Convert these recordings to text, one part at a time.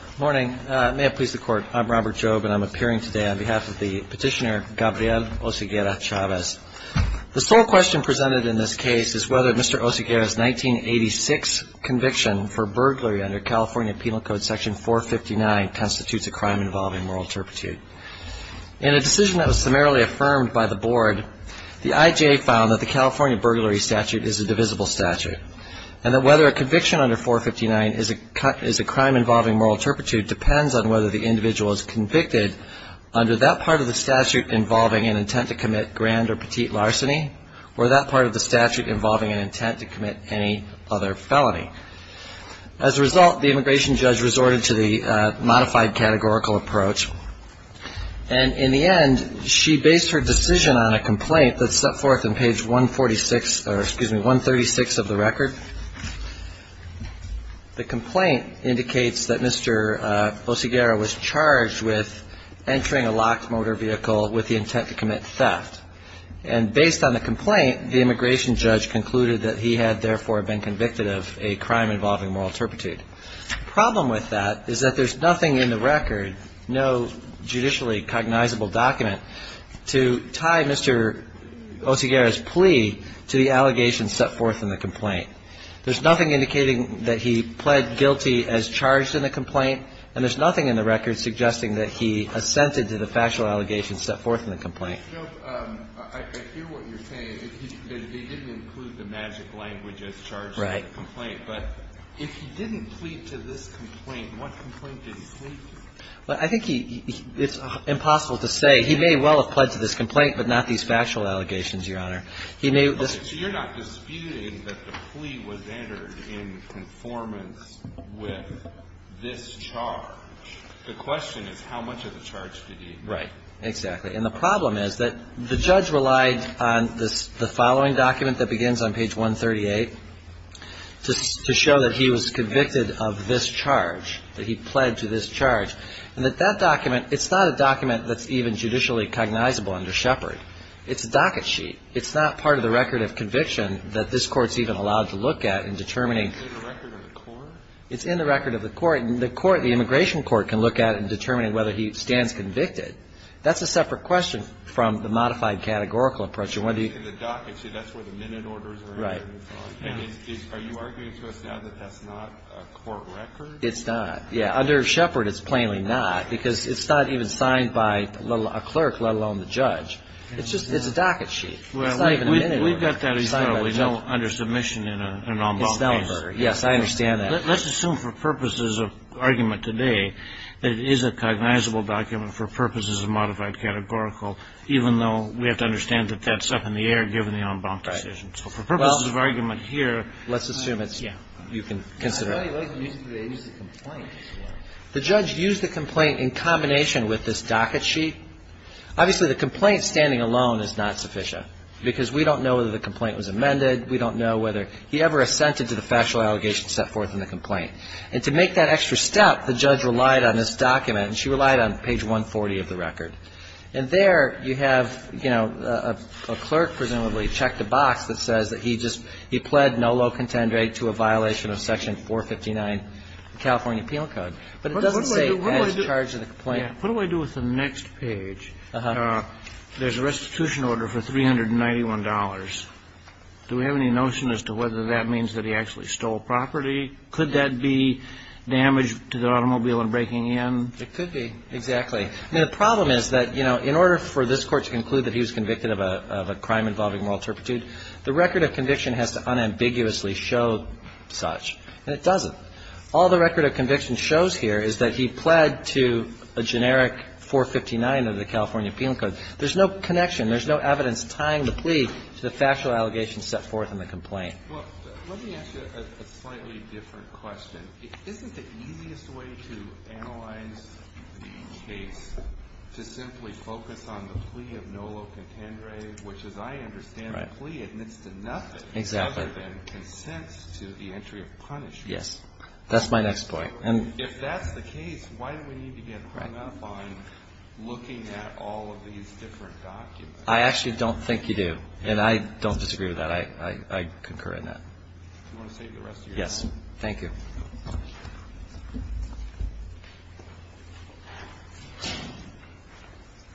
Good morning. May it please the Court, I'm Robert Jobe, and I'm appearing today on behalf of the petitioner Gabriel Oseguera-Chavez. The sole question presented in this case is whether Mr. Oseguera's 1986 conviction for burglary under California Penal Code Section 459 constitutes a crime involving moral turpitude. In a decision that was summarily affirmed by the Board, the IJA found that the California Penal Code's moral turpitude depends on whether the individual is convicted under that part of the statute involving an intent to commit grand or petite larceny or that part of the statute involving an intent to commit any other felony. As a result, the immigration judge resorted to the modified categorical approach, and in the end, she based her decision on a complaint that's set forth on page 146, or excuse me, 136 of the record. The complaint indicates that Mr. Oseguera was charged with entering a locked motor vehicle with the intent to commit theft. And based on the complaint, the immigration judge concluded that he had, therefore, been convicted of a crime involving moral turpitude. The problem with that is that there's nothing in the record, no judicially cognizable document, to tie Mr. Oseguera's plea to the allegations set forth in the complaint. There's nothing indicating that he pled guilty as charged in the complaint, and there's nothing in the record suggesting that he assented to the factual allegations set forth in the complaint. I hear what you're saying, that he didn't include the magic language as charged in the complaint. Right. But if he didn't plead to this complaint, what complaint did he plead to? Well, I think he – it's impossible to say. He may well have pledged to this complaint, but not these factual allegations, Your Honor. He may – Okay. So you're not disputing that the plea was entered in conformance with this charge. The question is how much of the charge did he – Right. Exactly. And the problem is that the judge relied on the following document that begins on page 138 to show that he was convicted of this charge, that he pled to this charge, and that that document – it's not a document that's even judicially cognizable under Shepard. It's a docket sheet. It's not part of the record of conviction that this Court's even allowed to look at in determining – Is it in the record of the court? The immigration court can look at it in determining whether he stands convicted. That's a separate question from the modified categorical approach. It's in the docket sheet. That's where the minute orders are entered and so on. Right. And are you arguing to us now that that's not a court record? It's not. Yeah. Under Shepard, it's plainly not, because it's not even signed by a clerk, let alone the judge. It's just – it's a docket sheet. It's not even a minute order. Well, we've got that, as you know, under submission in an en banc case. It's not a murder. Yes, I understand that. Well, let's assume for purposes of argument today that it is a cognizable document for purposes of modified categorical, even though we have to understand that that's up in the air given the en banc decision. So for purposes of argument here, let's assume it's – yeah, you can consider it. I really like the use of the agency complaint. The judge used the complaint in combination with this docket sheet. Obviously, the complaint standing alone is not sufficient, because we don't know whether the complaint was amended. We don't know whether he ever assented to the factual allegations set forth in the complaint. And to make that extra step, the judge relied on this document, and she relied on page 140 of the record. And there you have, you know, a clerk presumably checked a box that says that he just – he pled no low contend rate to a violation of Section 459 of the California Appeal Code. But it doesn't say he's charged in the complaint. What do I do with the next page? There's a restitution order for $391. Do we have any notion as to whether that means that he actually stole property? Could that be damage to the automobile in breaking in? It could be, exactly. I mean, the problem is that, you know, in order for this Court to conclude that he was convicted of a crime involving moral turpitude, the record of conviction has to unambiguously show such. And it doesn't. All the record of conviction shows here is that he pled to a generic 459 of the California Appeal Code. There's no connection. There's no evidence tying the plea to the factual allegations set forth in the complaint. Let me ask you a slightly different question. Isn't the easiest way to analyze the case to simply focus on the plea of no low contend rate, which as I understand the plea admits to nothing other than consents to the entry of punishment? Yes. That's my next point. If that's the case, why do we need to get hung up on looking at all of these different documents? I actually don't think you do. And I don't disagree with that. I concur in that. Do you want to save the rest of your time? Yes. Thank you. Sorry.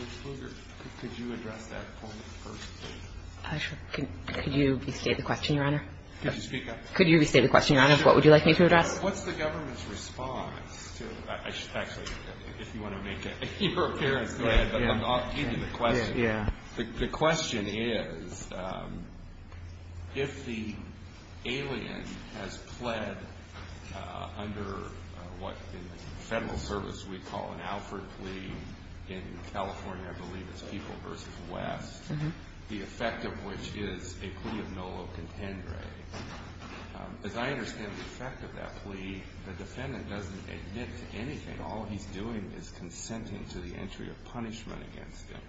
Ms. Kruger, could you address that point first, please? Sure. Could you restate the question, Your Honor? Could you speak up? Could you restate the question, Your Honor? What would you like me to address? What's the government's response to – actually, if you want to make your appearance, go ahead. But I'll give you the question. Yeah. The question is if the alien has pled under what in the federal service we call an Alfred plea in California, I believe it's People v. West, the effect of which is a plea of nolo contendere. As I understand the effect of that plea, the defendant doesn't admit to anything. All he's doing is consenting to the entry of punishment against him.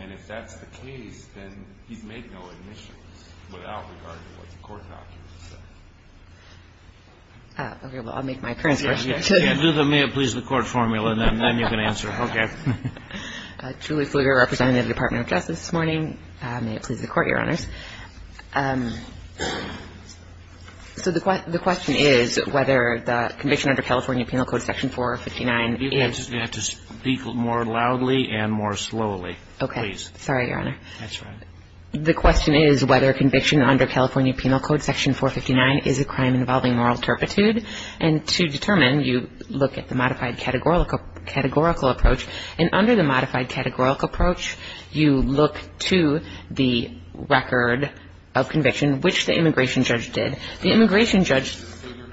And if that's the case, then he's made no admissions without regard to what the court documents say. Okay. Well, I'll make my appearance. Okay. Julie Pfluger representing the Department of Justice this morning. May it please the Court, Your Honors. So the question is whether the conviction under California Penal Code Section 459 is – You're going to have to speak more loudly and more slowly, please. Okay. Sorry, Your Honor. That's all right. The question is whether conviction under California Penal Code Section 459 is a crime involving moral turpitude. And to determine, you look at the modified categorical approach. And under the modified categorical approach, you look to the record of conviction, which the immigration judge did. The immigration judge – Mrs. Pfluger,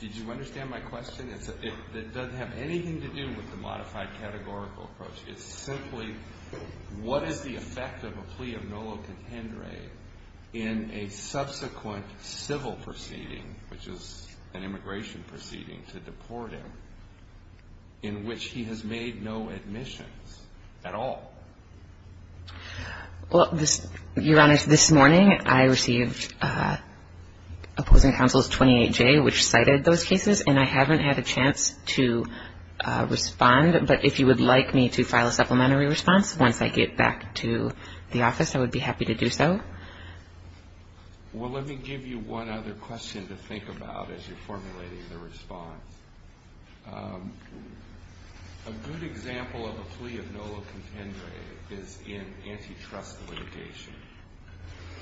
did you understand my question? It doesn't have anything to do with the modified categorical approach. It's simply what is the effect of a plea of nolo contendere in a subsequent civil proceeding, which is an immigration proceeding to deport him, in which he has made no admissions at all? Well, Your Honors, this morning I received opposing counsel's 28J, which cited those cases, and I haven't had a chance to respond. But if you would like me to file a supplementary response once I get back to the office, I would be happy to do so. Well, let me give you one other question to think about as you're formulating the response. A good example of a plea of nolo contendere is in antitrust litigation.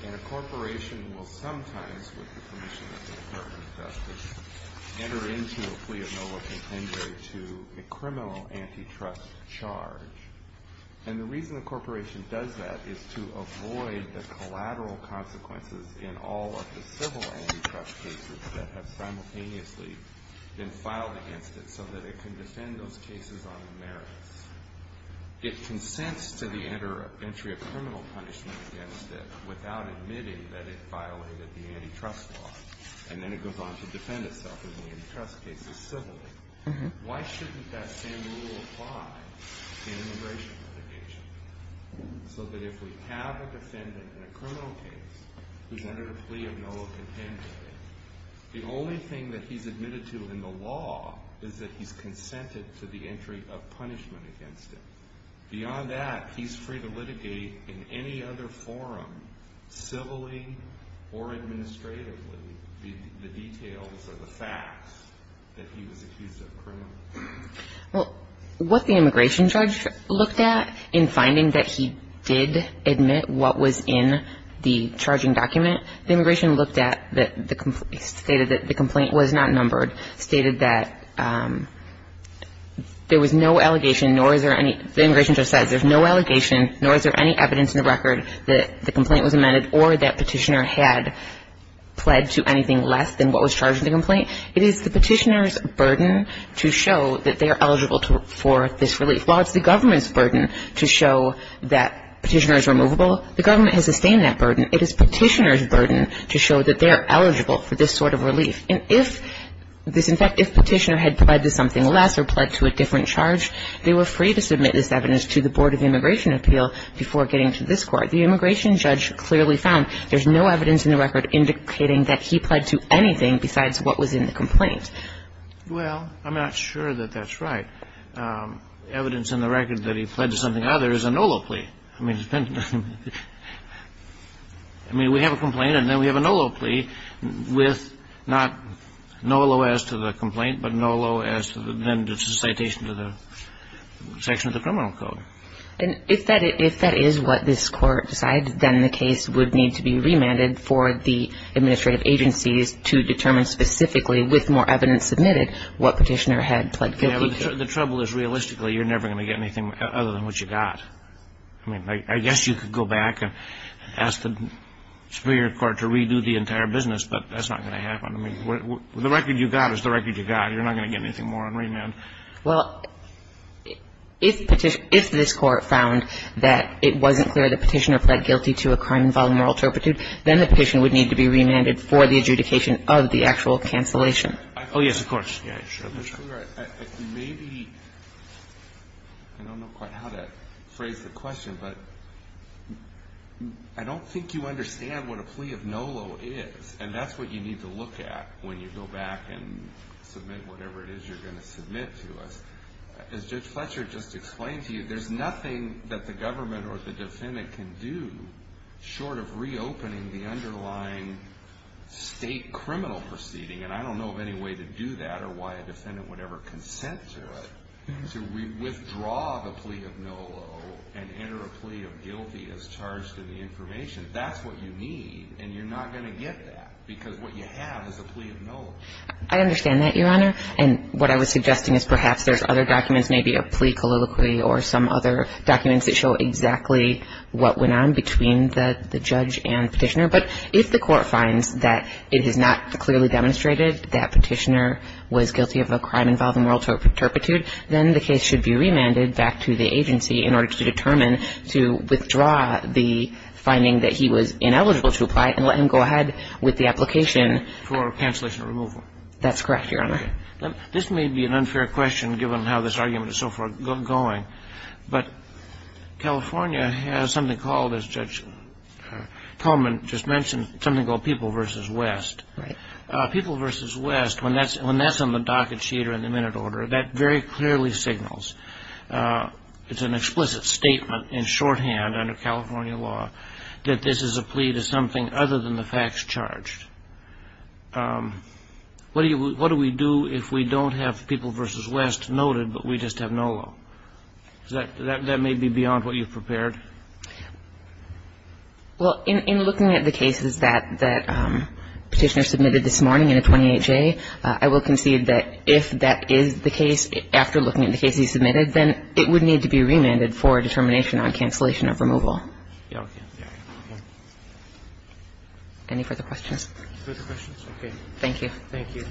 And a corporation will sometimes, with the permission of the court of justice, enter into a plea of nolo contendere to a criminal antitrust charge. And the reason a corporation does that is to avoid the collateral consequences in all of the civil antitrust cases that have simultaneously been filed against it so that it can defend those cases on the merits. It consents to the entry of criminal punishment against it without admitting that it violated the antitrust law. And then it goes on to defend itself in the antitrust cases civilly. Why shouldn't that same rule apply in immigration litigation? So that if we have a defendant in a criminal case who's entered a plea of nolo contendere, the only thing that he's admitted to in the law is that he's consented to the entry of punishment against him. Beyond that, he's free to litigate in any other forum, civilly or administratively, the details or the facts that he was accused of criminal. Well, what the immigration judge looked at in finding that he did admit what was in the charging document, the immigration looked at that stated that the complaint was not numbered, stated that there was no allegation, nor is there any – the immigration judge says there's no allegation, nor is there any evidence in the record that the complaint was amended or that Petitioner had pled to anything less than what was charged in the complaint. It is the Petitioner's burden to show that they are eligible for this relief. While it's the government's burden to show that Petitioner is removable, the government has sustained that burden. It is Petitioner's burden to show that they are eligible for this sort of relief. And if this – in fact, if Petitioner had pled to something less or pled to a different charge, they were free to submit this evidence to the Board of Immigration Appeal before getting to this Court. The immigration judge clearly found there's no evidence in the record indicating that he pled to anything besides what was in the complaint. Well, I'm not sure that that's right. Evidence in the record that he pled to something other is a NOLO plea. I mean, it's been – I mean, we have a complaint, and then we have a NOLO plea with not NOLO as to the complaint, but NOLO as to the – then it's a citation to the section of the criminal code. And if that – if that is what this Court decides, then the case would need to be remanded for the administrative agencies to determine specifically with more evidence submitted what Petitioner had pled guilty to. The trouble is, realistically, you're never going to get anything other than what you got. I mean, I guess you could go back and ask the Superior Court to redo the entire business, but that's not going to happen. I mean, the record you got is the record you got. You're not going to get anything more on remand. Well, if Petition – if this Court found that it wasn't clear that Petitioner pled guilty to a crime involving moral turpitude, then the petition would need to be remanded for the adjudication of the actual cancellation. Oh, yes, of course. Mr. Fletcher, maybe – I don't know quite how to phrase the question, but I don't think you understand what a plea of NOLO is, and that's what you need to look at when you go back and submit whatever it is you're going to submit to us. As Judge Fletcher just explained to you, there's nothing that the government or the defendant can do short of reopening the underlying state criminal proceeding, and I don't know of any way to do that or why a defendant would ever consent to it. So we withdraw the plea of NOLO and enter a plea of guilty as charged in the information. That's what you need, and you're not going to get that because what you have is a plea of NOLO. I understand that, Your Honor, and what I was suggesting is perhaps there's other documents, maybe a plea colloquy or some other documents that show exactly what went on between the judge and Petitioner, but if the Court finds that it has not clearly demonstrated that Petitioner was guilty of a crime involving moral turpitude, then the case should be remanded back to the agency in order to determine to withdraw the finding that he was ineligible to apply and let him go ahead with the application. For cancellation or removal. That's correct, Your Honor. This may be an unfair question given how this argument is so far going, but California has something called, as Judge Coleman just mentioned, something called People v. West. Right. People v. West, when that's on the docket sheet or in the minute order, that very clearly signals, it's an explicit statement in shorthand under California law, that this is a plea to something other than the facts charged. What do we do if we don't have People v. West noted, but we just have no law? That may be beyond what you've prepared. Well, in looking at the cases that Petitioner submitted this morning in a 28-J, I will concede that if that is the case, after looking at the cases he submitted, then it would need to be remanded for determination on cancellation of removal. Okay. Any further questions? Further questions? Okay. Thank you. Thank you.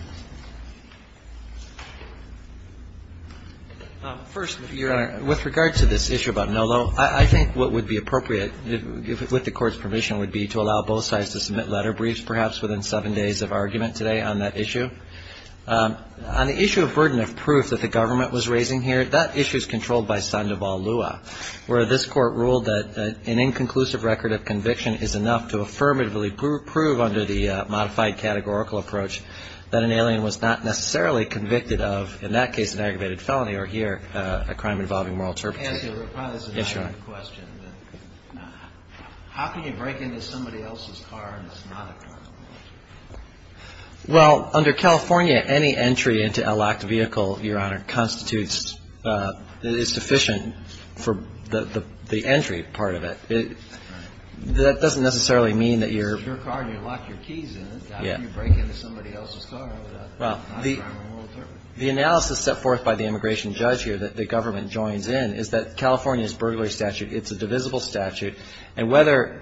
First, Your Honor, with regard to this issue about no law, I think what would be appropriate with the Court's permission would be to allow both sides to submit letter briefs, perhaps within seven days of argument today on that issue. On the issue of burden of proof that the government was raising here, that issue is controlled by Sandoval Lua, where this Court ruled that an inconclusive record of conviction is enough to affirmatively prove under the modified categorical approach that an alien was not necessarily convicted of, in that case, an aggravated felony, or here, a crime involving moral turpitude. And to reply to this question, how can you break into somebody else's car and it's not a car? Well, under California, any entry into a locked vehicle, Your Honor, constitutes that it's sufficient for the entry part of it. That doesn't necessarily mean that you're --. It's your car and you lock your keys in it. How can you break into somebody else's car without a crime of moral turpitude? The analysis set forth by the immigration judge here that the government joins in is that California's burglary statute, it's a divisible statute, and whether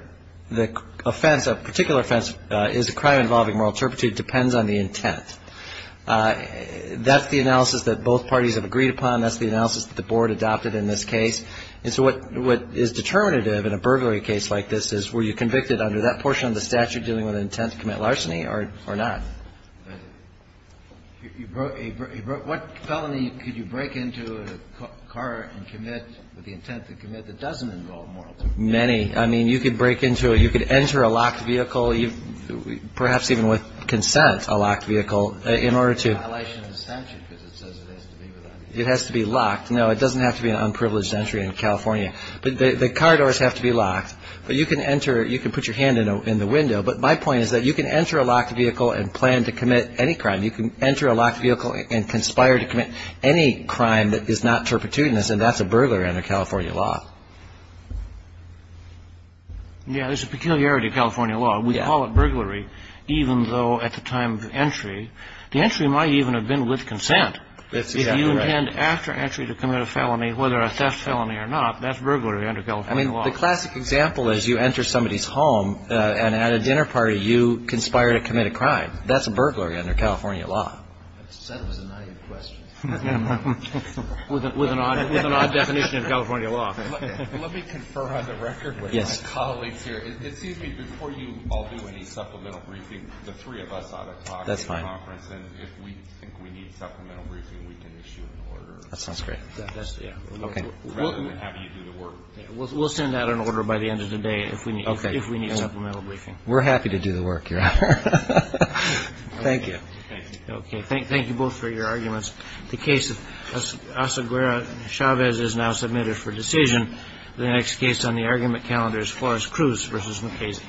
the offense, a particular offense, is a crime involving moral turpitude depends on the intent. That's the analysis that both parties have agreed upon. That's the analysis that the Board adopted in this case. And so what is determinative in a burglary case like this is, were you convicted under that portion of the statute dealing with an intent to commit larceny or not? What felony could you break into a car and commit with the intent to commit that doesn't involve moral turpitude? Many. I mean, you could break into a --. You could enter a locked vehicle, perhaps even with consent, a locked vehicle, in order to --. It's a violation of the statute because it says it has to be locked. It has to be locked. No, it doesn't have to be an unprivileged entry in California. The car doors have to be locked. But you can enter or you can put your hand in the window. But my point is that you can enter a locked vehicle and plan to commit any crime. You can enter a locked vehicle and conspire to commit any crime that is not turpitudinous, and that's a burglar under California law. Yeah, there's a peculiarity to California law. We call it burglary, even though at the time of entry, the entry might even have been with consent. If you intend after entry to commit a felony, whether a theft felony or not, that's burglary under California law. I mean, the classic example is you enter somebody's home, and at a dinner party, you conspire to commit a crime. That's a burglary under California law. That was a naive question. With an odd definition of California law. Let me confer on the record with my colleagues here. It seems to me before you all do any supplemental briefing, the three of us ought to talk at the conference. That's fine. If we think we need supplemental briefing, we can issue an order. That sounds great. Rather than having you do the work. We'll send out an order by the end of the day if we need supplemental briefing. We're happy to do the work, Your Honor. Thank you. Thank you. Okay, thank you both for your arguments. The case of Asaguera and Chavez is now submitted for decision. The next case on the argument calendar is Flores-Cruz v. McKay's.